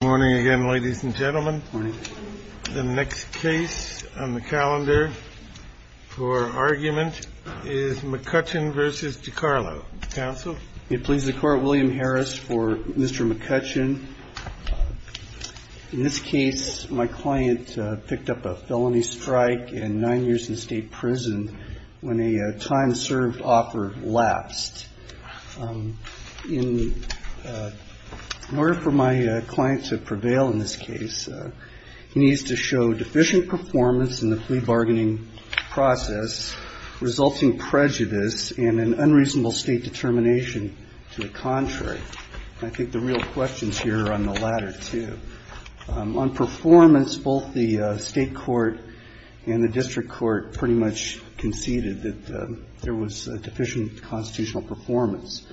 Good morning again, ladies and gentlemen. The next case on the calendar for argument is McCutcheon v. DiCarlo. Counsel? It pleases the Court, William Harris for Mr. McCutcheon. In this case, my client picked up a felony strike and nine years in state prison when a time-served offer lapsed. In order for my client to prevail in this case, he needs to show deficient performance in the plea bargaining process, resulting prejudice and an unreasonable state determination to the contrary. And I think the real questions here are on the latter, too. On performance, both the State court and the district court pretty much conceded that there was deficient constitutional performance.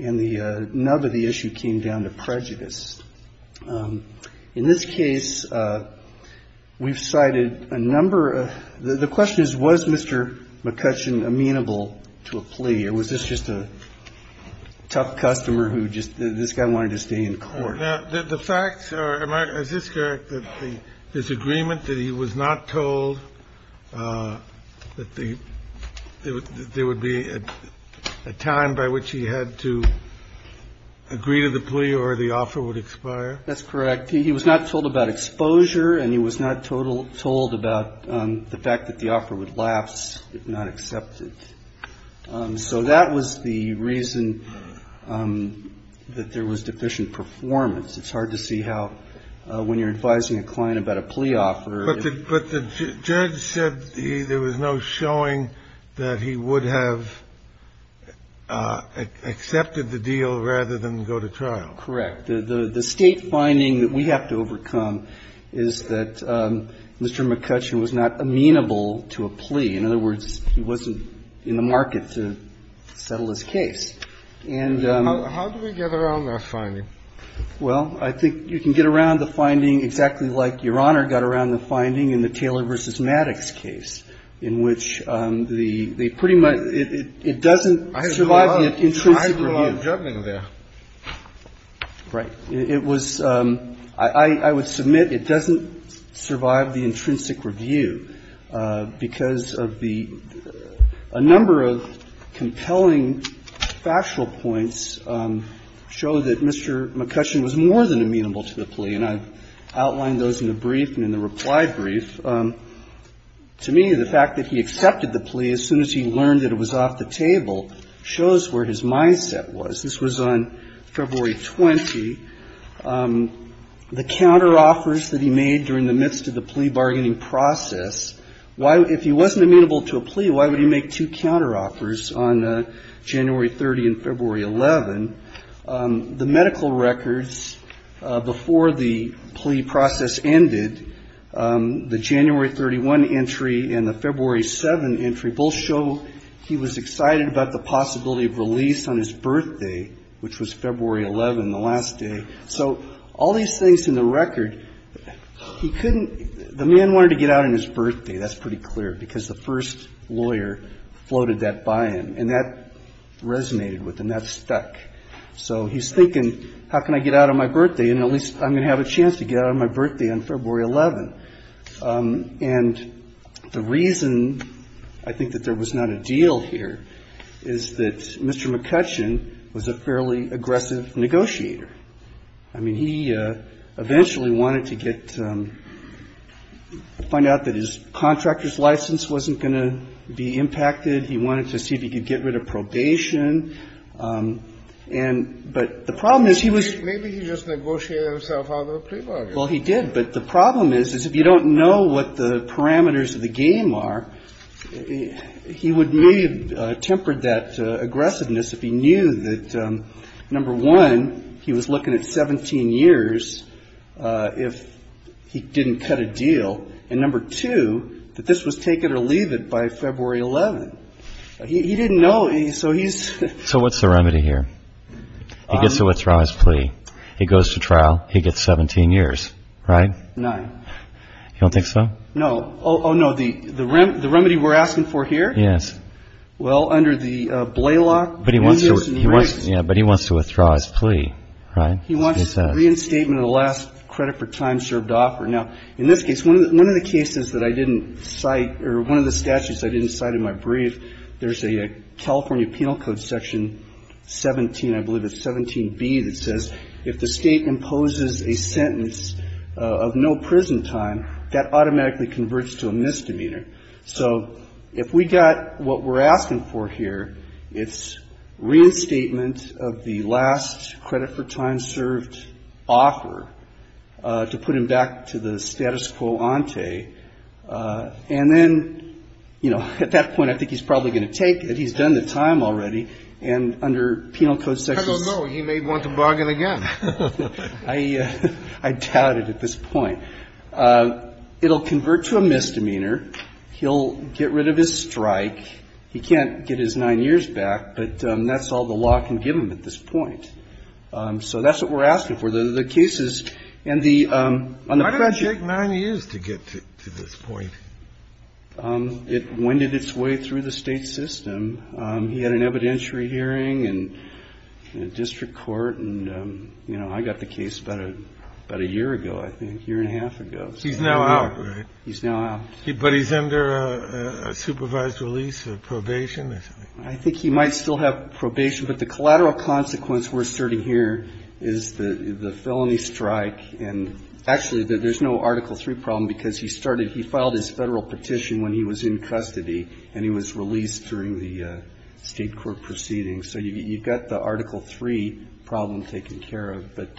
And the nub of the issue came down to prejudice. In this case, we've cited a number of — the question is, was Mr. McCutcheon amenable to a plea? Or was this just a tough customer who just — this guy wanted to stay in court? The facts are — is this correct, that the disagreement that he was not told that there would be a time by which he had to agree to the plea or the offer would expire? That's correct. He was not told about exposure, and he was not told about the fact that the offer would lapse if not accepted. So that was the reason that there was deficient performance. It's hard to see how, when you're advising a client about a plea offer — But the — but the judge said there was no showing that he would have accepted the deal rather than go to trial. Correct. The State finding that we have to overcome is that Mr. McCutcheon was not amenable to a plea. In other words, he wasn't in the market to settle his case. And — How do we get around that finding? Well, I think you can get around the finding exactly like Your Honor got around the finding in the Taylor v. Maddox case, in which the — they pretty much — it doesn't survive the intrinsic review. I had a lot of judgment there. Right. It was — I would submit it doesn't survive the intrinsic review, because of the — a number of compelling factual points show that Mr. McCutcheon was more than amenable to the plea, and I've outlined those in the brief and in the reply brief. To me, the fact that he accepted the plea as soon as he learned that it was off the table shows where his mindset was. This was on February 20. The counteroffers that he made during the midst of the plea bargaining process, why — if he wasn't amenable to a plea, why would he make two counteroffers on January 30 and February 11? The medical records before the plea process ended, the January 31 entry and the February 7 entry both show he was excited about the possibility of release on his birthday, which was February 11, the last day. So all these things in the record, he couldn't — the man wanted to get out on his birthday. That's pretty clear, because the first lawyer floated that by him, and that resonated with him. That stuck. So he's thinking, how can I get out on my birthday, and at least I'm going to have a chance to get out on my birthday on February 11. And the reason I think that there was not a deal here is that Mr. McCutcheon was a fairly aggressive negotiator. I mean, he eventually wanted to get — find out that his contractor's license wasn't going to be impacted. He wanted to see if he could get rid of probation. And — but the problem is, he was — Kennedy, maybe he just negotiated himself out of a plea bargain. Well, he did. But the problem is, is if you don't know what the parameters of the game are, he would maybe have tempered that aggressiveness if he knew that, number one, he was looking at 17 years if he didn't cut a deal, and number two, that this was take it or leave it by February 11. He didn't know. So he's — So what's the remedy here? He gets to withdraw his plea. He goes to trial. He gets 17 years, right? Nine. You don't think so? No. Oh, no. The remedy we're asking for here? Yes. Well, under the Blaylock — But he wants to — yeah, but he wants to withdraw his plea, right? He wants reinstatement of the last credit for time served offer. Now, in this case, one of the cases that I didn't cite — or one of the statutes I didn't cite in my brief, there's a California Penal Code section 17, I believe it's 17B, that says if the state imposes a sentence of no prison time, that automatically converts to a misdemeanor. So if we got what we're asking for here, it's reinstatement of the last credit for time served offer to put him back to the status quo ante. And then, you know, at that point, I think he's probably going to take it. He's done the time already. And under Penal Code section — How do we know? He may want to bargain again. I doubt it at this point. It'll convert to a misdemeanor. He'll get rid of his strike. He can't get his nine years back, but that's all the law can give him at this point. So that's what we're asking for. The cases and the — It would take nine years to get to this point. It winded its way through the state system. He had an evidentiary hearing in a district court. And, you know, I got the case about a year ago, I think, a year and a half ago. He's now out, right? He's now out. But he's under a supervised release, a probation or something? I think he might still have probation. But the collateral consequence we're asserting here is the felony strike. And actually, there's no Article III problem, because he started — he filed his Federal petition when he was in custody, and he was released during the State court proceedings. So you've got the Article III problem taken care of. But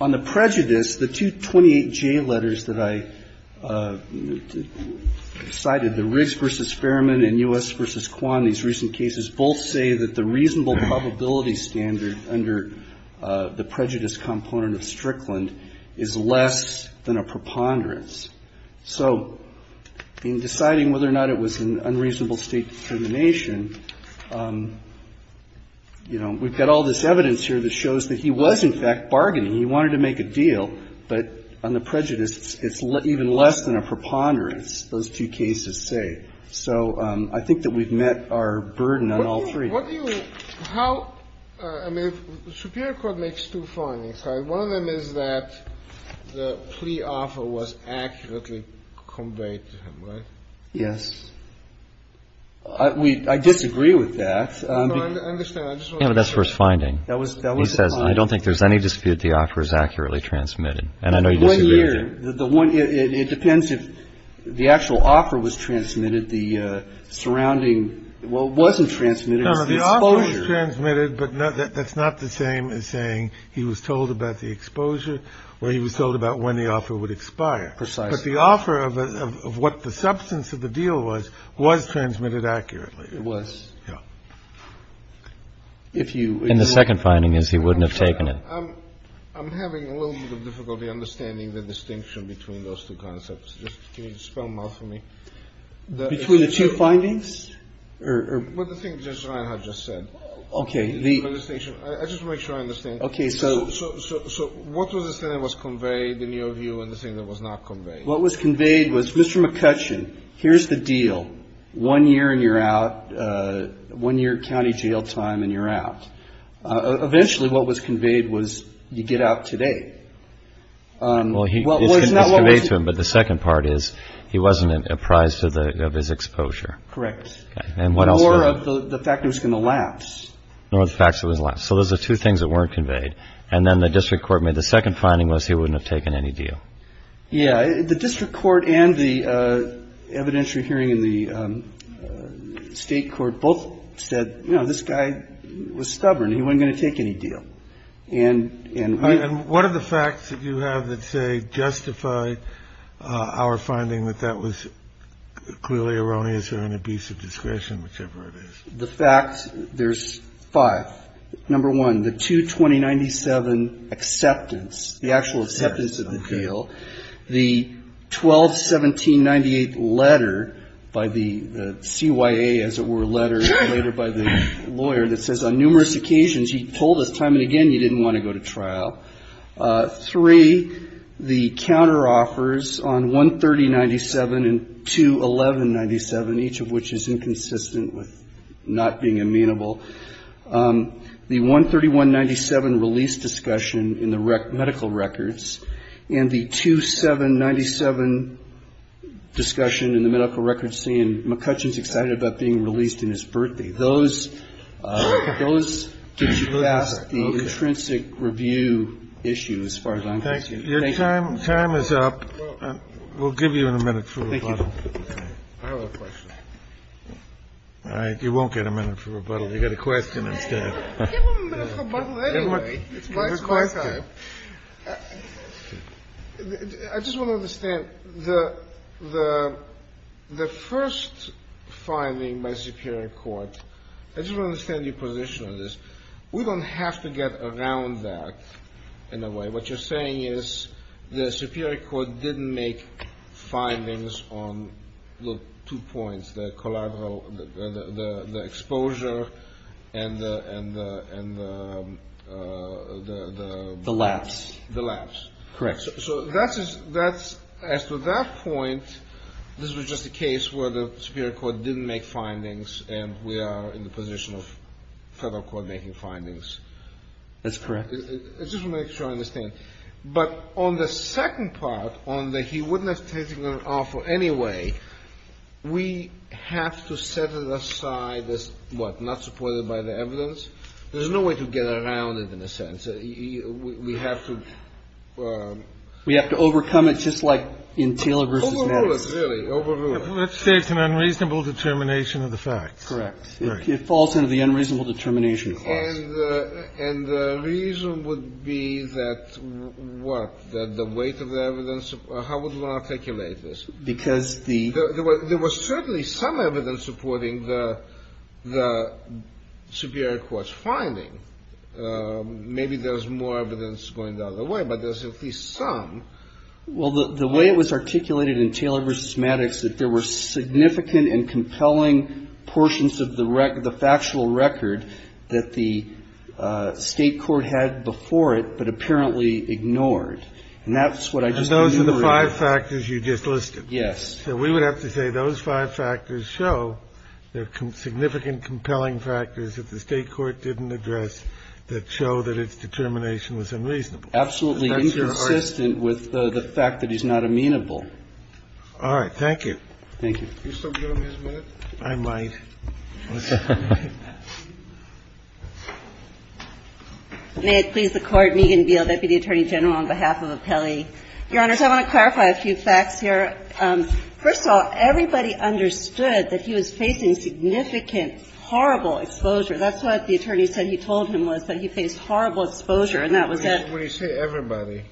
on the prejudice, the two 28J letters that I cited, the Riggs v. Fairman and U.S. v. Kwan, these recent cases, both say that the reasonable probability standard under the prejudice component of Strickland is less than a preponderance. So in deciding whether or not it was an unreasonable State determination, you know, we've got all this evidence here that shows that he was, in fact, bargaining. He wanted to make a deal. But on the prejudice, it's even less than a preponderance, those two cases say. So I think that we've met our burden on all three. And what do you — how — I mean, Superior Court makes two findings, right? One of them is that the plea offer was accurately conveyed to him, right? Yes. I disagree with that. No, I understand. I just want to make sure. Yeah, but that's the first finding. That was the first finding. He says, I don't think there's any dispute the offer is accurately transmitted. And I know you disagree with that. The one — it depends if the actual offer was transmitted, the surrounding — well, it wasn't transmitted, it was the exposure. No, no, the offer was transmitted, but that's not the same as saying he was told about the exposure or he was told about when the offer would expire. Precisely. But the offer of what the substance of the deal was, was transmitted accurately. It was. Yeah. If you — And the second finding is he wouldn't have taken it. I'm having a little bit of difficulty understanding the distinction between those two concepts. Just can you spell them out for me? Between the two findings? Or — Well, the thing Judge Ryan had just said. OK, the — I just want to make sure I understand. OK, so — So what was the thing that was conveyed in your view and the thing that was not conveyed? What was conveyed was, Mr. McCutcheon, here's the deal. One year and you're out. One year county jail time and you're out. Eventually, what was conveyed was you get out today. Well, he — Well, it was not — It was conveyed to him, but the second part is he wasn't apprised of his exposure. Correct. And what else — Nor of the fact it was going to lapse. Nor the fact it was lapse. So those are two things that weren't conveyed. And then the district court made the second finding was he wouldn't have taken any deal. Yeah. The district court and the evidentiary hearing in the state court both said, you know, this guy was stubborn. He wasn't going to take any deal. And — And what are the facts that you have that say justified our finding that that was clearly erroneous or an abuse of discretion, whichever it is? The facts — there's five. Number one, the two 2097 acceptance, the actual acceptance of the deal. The 12-1798 letter by the CYA, as it were, letter later by the lawyer that says, on numerous occasions, he told us time and again he didn't want to go to trial. Three, the counteroffers on 13097 and 2-1197, each of which is inconsistent with not being amenable. The 13197 release discussion in the medical records and the 2797 discussion in the medical records saying McCutcheon's excited about being released in his birthday. Those — those get you past the intrinsic review issue as far as I'm concerned. Thank you. Your time is up. We'll give you a minute for rebuttal. I have a question. All right. You won't get a minute for rebuttal. You get a question instead. Give him a minute for rebuttal anyway. It's my time. I just want to understand the — the — the first finding by Superior Court — I just want to understand your position on this. We don't have to get around that, in a way. What you're saying is the Superior Court didn't make findings on the two points, the collateral — the — the — the exposure and the — and the — and the — the — the — The lapse. The lapse. Correct. So that's — that's — as to that point, this was just a case where the Superior Court didn't make findings, and we are in the position of federal court making findings. That's correct. It's just to make sure I understand. But on the second part, on the he wouldn't have taken an offer anyway, we have to set it aside as, what, not supported by the evidence? There's no way to get around it, in a sense. We have to — We have to overcome it, just like in Taylor v. Nettles. Overrule it, really. Overrule it. Let's say it's an unreasonable determination of the facts. Correct. It falls under the unreasonable determination clause. And the reason would be that, what, that the weight of the evidence — how would one articulate this? Because the — There was certainly some evidence supporting the — the Superior Court's finding. Maybe there's more evidence going the other way, but there's at least some. Well, the way it was articulated in Taylor v. Maddox, that there were significant and compelling portions of the factual record that the State court had before it, but apparently ignored. And that's what I just enumerated. And those are the five factors you just listed. Yes. So we would have to say those five factors show there are significant, compelling factors that the State court didn't address that show that its determination was unreasonable. Absolutely inconsistent with the fact that he's not amenable. All right. Thank you. Thank you. Can you still give him his minute? I might. May it please the Court, Negan Beal, Deputy Attorney General, on behalf of Appellee. Your Honors, I want to clarify a few facts here. First of all, everybody understood that he was facing significant, horrible exposure. That's what the attorney said he told him was, that he faced horrible exposure. And that was that — What do you say, everybody?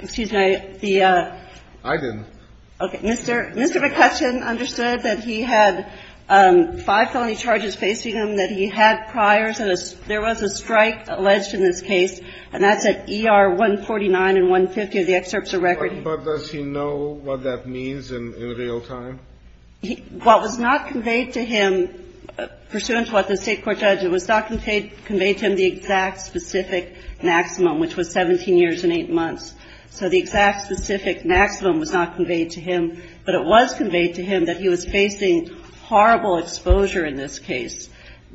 Excuse me. I didn't. Okay. Mr. McCutcheon understood that he had five felony charges facing him, that he had priors. There was a strike alleged in this case, and that's at ER 149 and 150 of the excerpts of record. But does he know what that means in real time? What was not conveyed to him, pursuant to what the State court judge, it was not conveyed to him the exact specific maximum, which was 17 years and 8 months. So the exact specific maximum was not conveyed to him. But it was conveyed to him that he was facing horrible exposure in this case,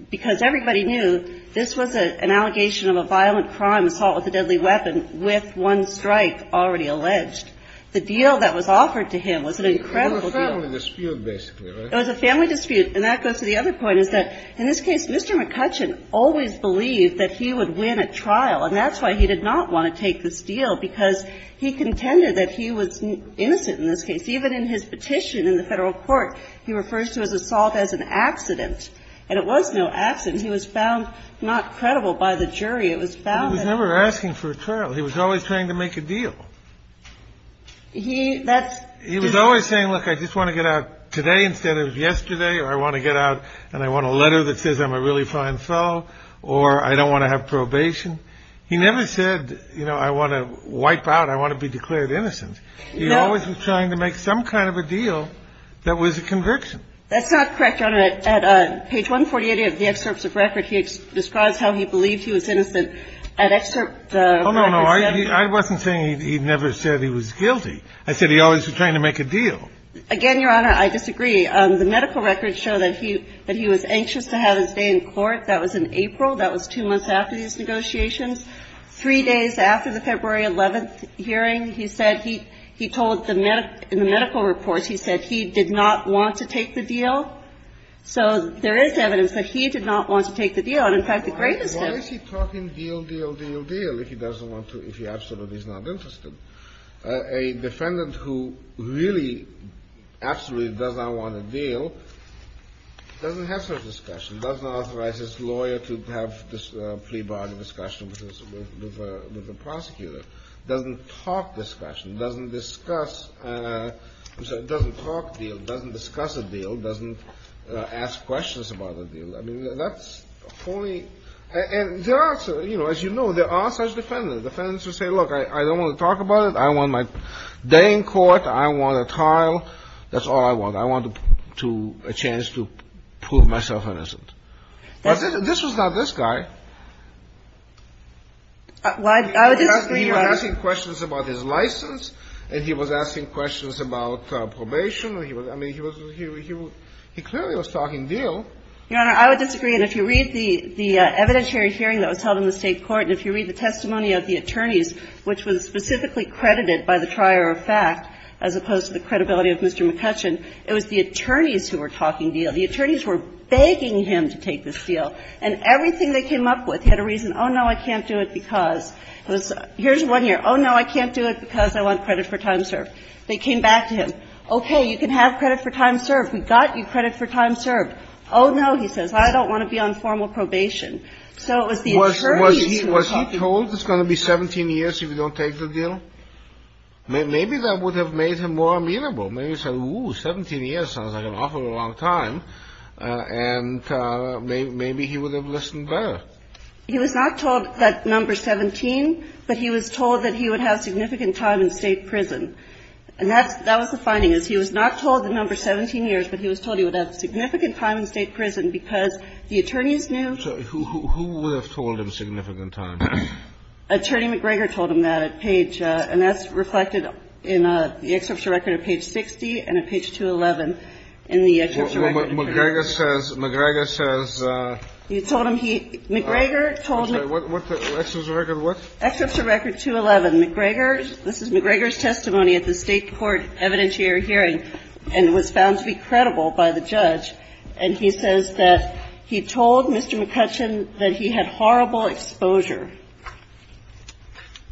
because everybody knew this was an allegation of a violent crime, assault with a deadly weapon, with one strike already alleged. The deal that was offered to him was an incredible deal. It was a family dispute, basically, right? It was a family dispute. And that goes to the other point, is that in this case, Mr. McCutcheon always believed that he would win at trial. And that's why he did not want to take this deal, because he contended that he was innocent in this case. Even in his petition in the Federal court, he refers to his assault as an accident. And it was no accident. He was found not credible by the jury. It was found that he was always trying to make a deal. He was always saying, look, I just want to get out today instead of yesterday. Or I want to get out and I want a letter that says I'm a really fine fellow. Or I don't want to have probation. He never said, you know, I want to wipe out, I want to be declared innocent. He always was trying to make some kind of a deal that was a conviction. That's not correct, Your Honor. At page 148 of the excerpts of record, he describes how he believed he was innocent. At excerpt 547. Oh, no, no. I wasn't saying he never said he was guilty. I said he always was trying to make a deal. Again, Your Honor, I disagree. The medical records show that he was anxious to have his day in court. That was in April. That was two months after these negotiations. Three days after the February 11th hearing, he said he told the medical reports, he said he did not want to take the deal. So there is evidence that he did not want to take the deal. And, in fact, the greatest of them Why is he talking deal, deal, deal, deal if he doesn't want to, if he absolutely is not interested? A defendant who really absolutely does not want a deal doesn't have such a discussion, doesn't authorize his lawyer to have this plea bargain discussion with the prosecutor, doesn't talk discussion, doesn't discuss, I'm sorry, doesn't talk deal, doesn't discuss a deal, doesn't ask questions about a deal. I mean, that's wholly and there are, you know, as you know, there are such defendants, defendants who say, look, I don't want to talk about it. I want my day in court. I want a trial. That's all I want. I want to a chance to prove myself innocent. This was not this guy. I would disagree, Your Honor. He was asking questions about his license and he was asking questions about probation. I mean, he was, he clearly was talking deal. Your Honor, I would disagree. And if you read the evidentiary hearing that was held in the State court and if you read the testimony of the attorneys, which was specifically credited by the trier of fact as opposed to the credibility of Mr. McCutcheon, it was the attorneys who were talking deal. The attorneys were begging him to take this deal and everything they came up with. He had a reason. Oh, no, I can't do it because it was, here's one here. Oh, no, I can't do it because I want credit for time served. They came back to him. Okay, you can have credit for time served. We got you credit for time served. Oh, no, he says. I don't want to be on formal probation. So it was the attorneys who were talking deal. Kennedy. Was he told it's going to be 17 years if you don't take the deal? Maybe that would have made him more amenable. Maybe he said, ooh, 17 years sounds like an awful long time. And maybe he would have listened better. He was not told that number 17, but he was told that he would have significant time in State prison. And that's the finding, is he was not told the number 17 years, but he was told he would have significant time in State prison because the attorneys knew. So who would have told him significant time? Attorney McGregor told him that at page, and that's reflected in the excerpt of record at page 60 and at page 211 in the excerpt of record. McGregor says, McGregor says. You told him he, McGregor told him. What's the record? What? Excerpt of record 211. McGregor, this is McGregor's testimony at the State court evidentiary hearing and was found to be credible by the judge. And he says that he told Mr. McCutcheon that he had horrible exposure.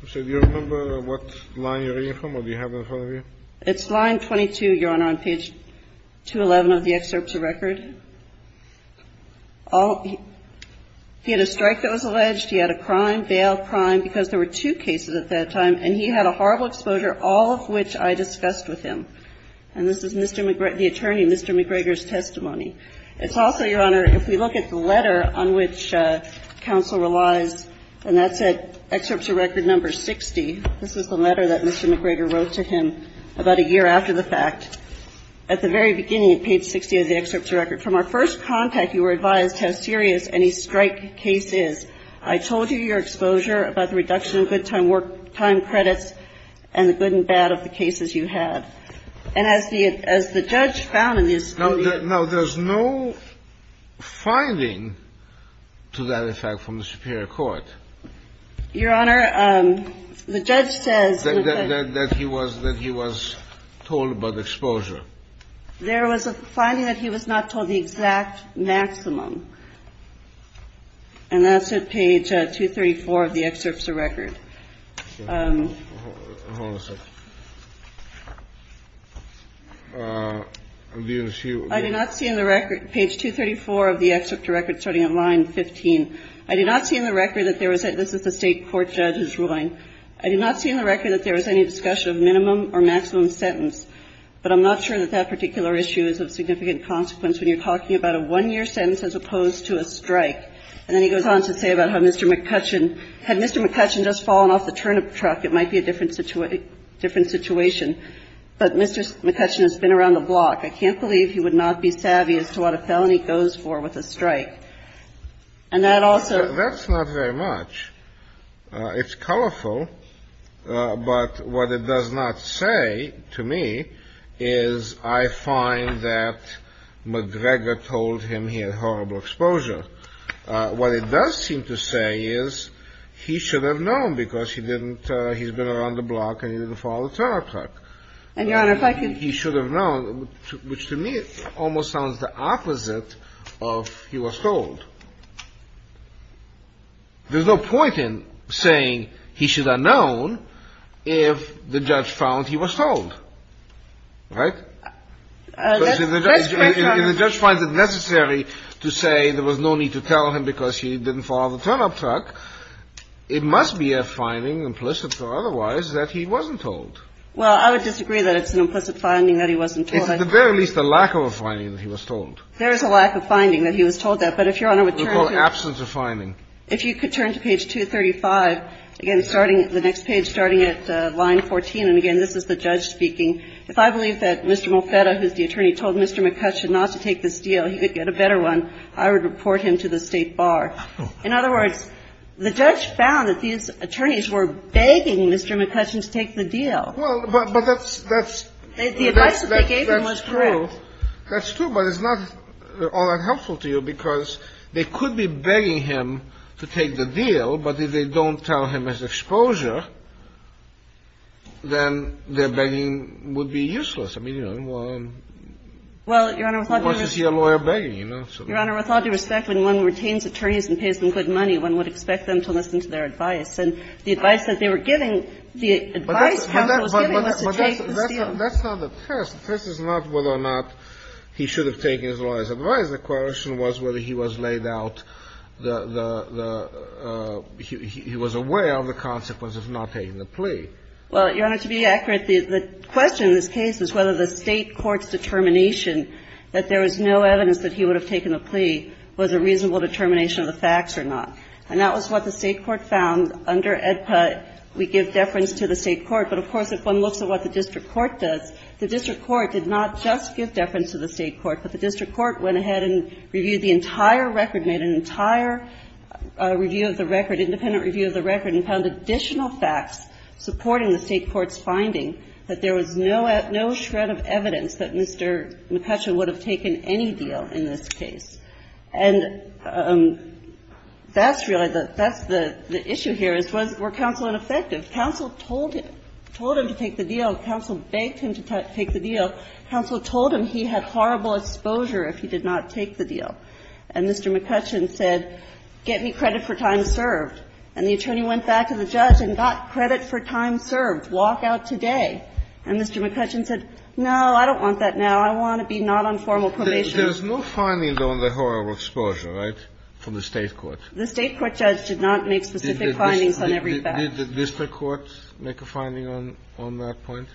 So do you remember what line you're reading from or do you have it in front of you? It's line 22, Your Honor, on page 211 of the excerpt of record. All, he had a strike that was alleged, he had a crime, bail, crime, because there were two cases at that time, and he had a horrible exposure, all of which I discussed with him. And this is Mr. McGregor, the attorney, Mr. McGregor's testimony. It's also, Your Honor, if we look at the letter on which counsel relies, and that's at excerpt of record number 60. This is the letter that Mr. McGregor wrote to him about a year after the fact. At the very beginning of page 60 of the excerpt of record, from our first contact, you were advised how serious any strike case is. I told you your exposure about the reduction of good time work time credits and the good and bad of the cases you had. And as the judge found in the excerpt of record. Now, there's no finding to that effect from the superior court. Your Honor, the judge says that he was told about the exposure. There was a finding that he was not told the exact maximum. And that's at page 234 of the excerpt of record. I do not see in the record, page 234 of the excerpt of record, starting at line 15. I do not see in the record that there was any --" this is the State court judge's ruling. I do not see in the record that there was any discussion of minimum or maximum sentence. But I'm not sure that that particular issue is of significant consequence when you're talking about a one-year sentence as opposed to a strike. And then he goes on to say about how Mr. McCutcheon, had Mr. McCutcheon just fallen off the turnip truck, it might be a different situation. But Mr. McCutcheon has been around the block. And that also --" That's not very much. It's colorful. But what it does not say to me is I find that McGregor told him he had horrible exposure. What it does seem to say is he should have known because he didn't --" he's been around the block and he didn't fall off the turnip truck. And, Your Honor, if I could --" He should have known, which to me almost sounds the opposite of he was told. There's no point in saying he should have known if the judge found he was told. Right? Because if the judge finds it necessary to say there was no need to tell him because he didn't fall off the turnip truck, it must be a finding, implicit or otherwise, that he wasn't told. Well, I would disagree that it's an implicit finding that he wasn't told. It's at the very least a lack of a finding that he was told. There is a lack of finding that he was told that. But if Your Honor would turn to the next page, starting at line 14, and again, this is the judge speaking, if I believe that Mr. Mulfetta, who is the attorney, told Mr. McCutcheon not to take this deal, he could get a better one, I would report him to the State Bar. In other words, the judge found that these attorneys were begging Mr. McCutcheon to take the deal. Well, but that's the advice that they gave him was true. That's true, but it's not all that helpful to you because they could be begging him to take the deal, but if they don't tell him his exposure, then their begging would be useless. I mean, you know, well, unless you see a lawyer begging, you know. Your Honor, with all due respect, when one retains attorneys and pays them good money, one would expect them to listen to their advice. And the advice that they were giving, the advice counsel was giving was to take this deal. But that's not the test. The test is not whether or not he should have taken his lawyer's advice. The question was whether he was laid out the – he was aware of the consequences of not taking the plea. Well, Your Honor, to be accurate, the question in this case is whether the State Court's determination that there was no evidence that he would have taken the plea was a reasonable determination of the facts or not. And that was what the State Court found under AEDPA. We give deference to the State Court, but, of course, if one looks at what the district court does, the district court did not just give deference to the State Court, but the district court went ahead and reviewed the entire record, made an entire review of the record, independent review of the record, and found additional facts supporting the State Court's finding that there was no – no shred of evidence that Mr. McCutcheon would have taken any deal in this case. And that's really the – that's the issue here, is was – were counsel ineffective? Counsel told him – told him to take the deal. Counsel begged him to take the deal. Counsel told him he had horrible exposure if he did not take the deal. And Mr. McCutcheon said, get me credit for time served. And the attorney went back to the judge and got credit for time served. Walk out today. And Mr. McCutcheon said, no, I don't want that now. I want to be not on formal probation. There's no findings on the horrible exposure, right, from the State Court? The State Court judge did not make specific findings on every fact. Did the district court make a finding on – on that point?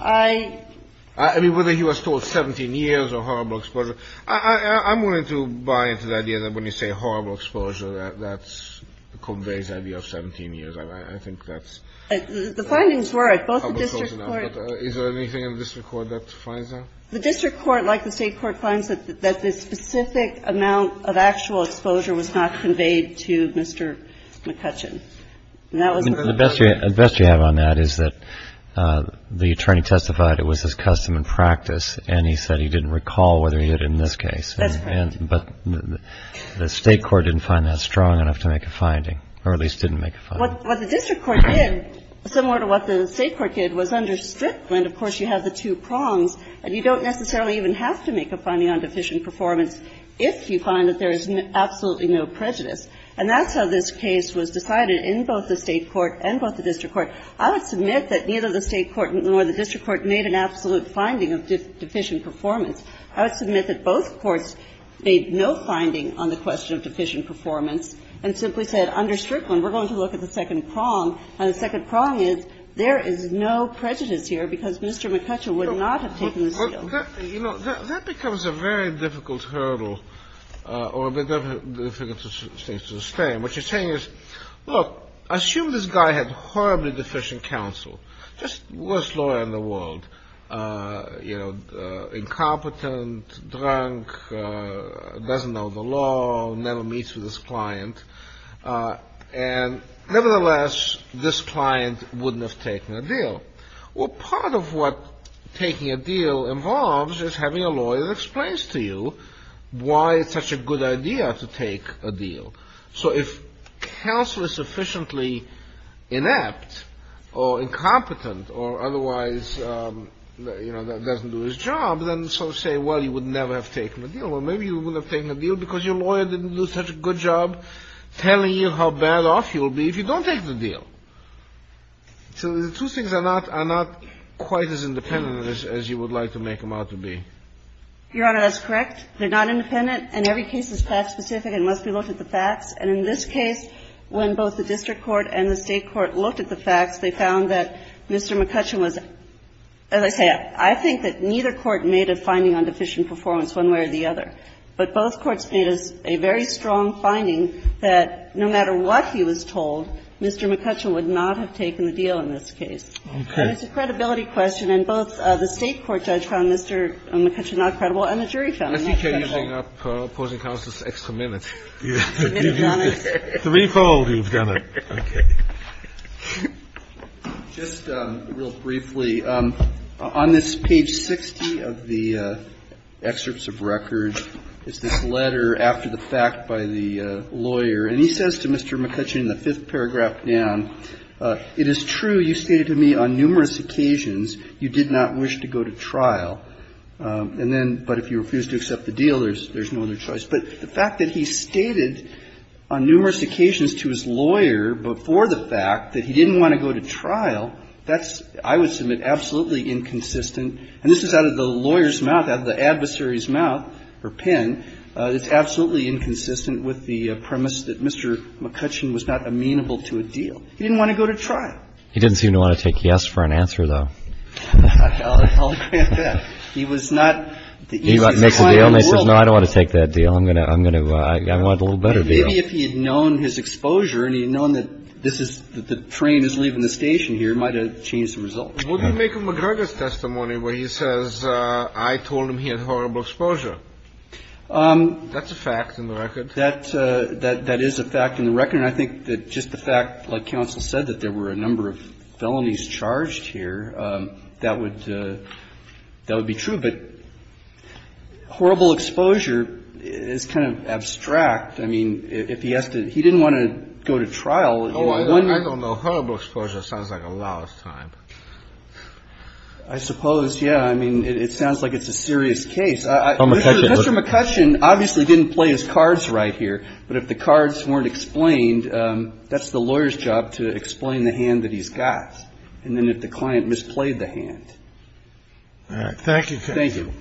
I – I mean, whether he was told 17 years or horrible exposure. I'm willing to buy into the idea that when you say horrible exposure, that's – conveys the idea of 17 years. I think that's – The findings were at both the district court – Is there anything in the district court that defines that? The district court, like the State Court, finds that the specific amount of actual exposure was not conveyed to Mr. McCutcheon. And that was the – The best you – the best you have on that is that the attorney testified it was his custom and practice, and he said he didn't recall whether he did in this case. That's correct. But the State Court didn't find that strong enough to make a finding, or at least didn't make a finding. What the district court did, similar to what the State Court did, was under Strickland, of course, you have the two prongs. And you don't necessarily even have to make a finding on deficient performance if you find that there is absolutely no prejudice. And that's how this case was decided in both the State Court and both the district court. I would submit that neither the State Court nor the district court made an absolute finding of deficient performance. I would submit that both courts made no finding on the question of deficient performance and simply said under Strickland, we're going to look at the second prong. And the second prong is there is no prejudice here because Mr. McCutcheon would not have taken the seal. You know, that becomes a very difficult hurdle or a very difficult thing to sustain. What you're saying is, look, assume this guy had horribly deficient counsel. Just worst lawyer in the world. You know, incompetent, drunk, doesn't know the law, never meets with his client. And nevertheless, this client wouldn't have taken a deal. Well, part of what taking a deal involves is having a lawyer that explains to you why it's such a good idea to take a deal. So if counsel is sufficiently inept or incompetent or otherwise, you know, doesn't do his job, then so say, well, you would never have taken a deal. Well, maybe you would have taken a deal because your lawyer didn't do such a good job telling you how bad off you'll be if you don't take the deal. So the two things are not quite as independent as you would like to make them out to be. Your Honor, that's correct. They're not independent. And every case is fact-specific and must be looked at the facts. And in this case, when both the district court and the State court looked at the facts, they found that Mr. McCutcheon was, as I say, I think that neither court made a finding on deficient performance one way or the other. But both courts made a very strong finding that no matter what he was told, Mr. McCutcheon would not have taken the deal in this case. It's a credibility question. And both the State court judge found Mr. McCutcheon not credible and the jury found him not credible. Your Honor, he did a very nice job. He Hubris lowered the contrary. I'm sure. Rock needed a little clarification. I don't know what paper can you bring up opposing counsel's extra minute. Three fold, you've done it. Okay. The deal is there's no other choice. But the fact that he stated on numerous occasions to his lawyer before the fact that he didn't want to go to trial, that's I would submit absolutely inconsistent. And this is out of the lawyer's mouth, out of the adversary's mouth or pen. It's absolutely inconsistent with the premise that Mr. McCutcheon was not amenable to a deal. He didn't want to go to trial. He didn't seem to want to take yes for an answer, though. I'll agree with that. He was not the easiest client in the world. He makes a deal and says, no, I don't want to take that deal. I'm going to I'm going to I want a little better deal. Maybe if he had known his exposure and he had known that this is the train is leaving the station here, might have changed the result. What do you make of McGregor's testimony where he says, I told him he had horrible exposure? That's a fact in the record. That that that is a fact in the record. And I think that just the fact, like counsel said, that there were a number of felonies charged here, that would that would be true. But horrible exposure is kind of abstract. I mean, if he has to he didn't want to go to trial. Oh, I don't know. Horrible exposure sounds like a lot of time. I suppose. Yeah. I mean, it sounds like it's a serious case. Mr. McCutcheon obviously didn't play his cards right here. But if the cards weren't explained, that's the lawyer's job to explain the hand that he's got. And then if the client misplayed the hand. Thank you. Thank you.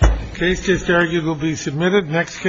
The case is there. It will be submitted next.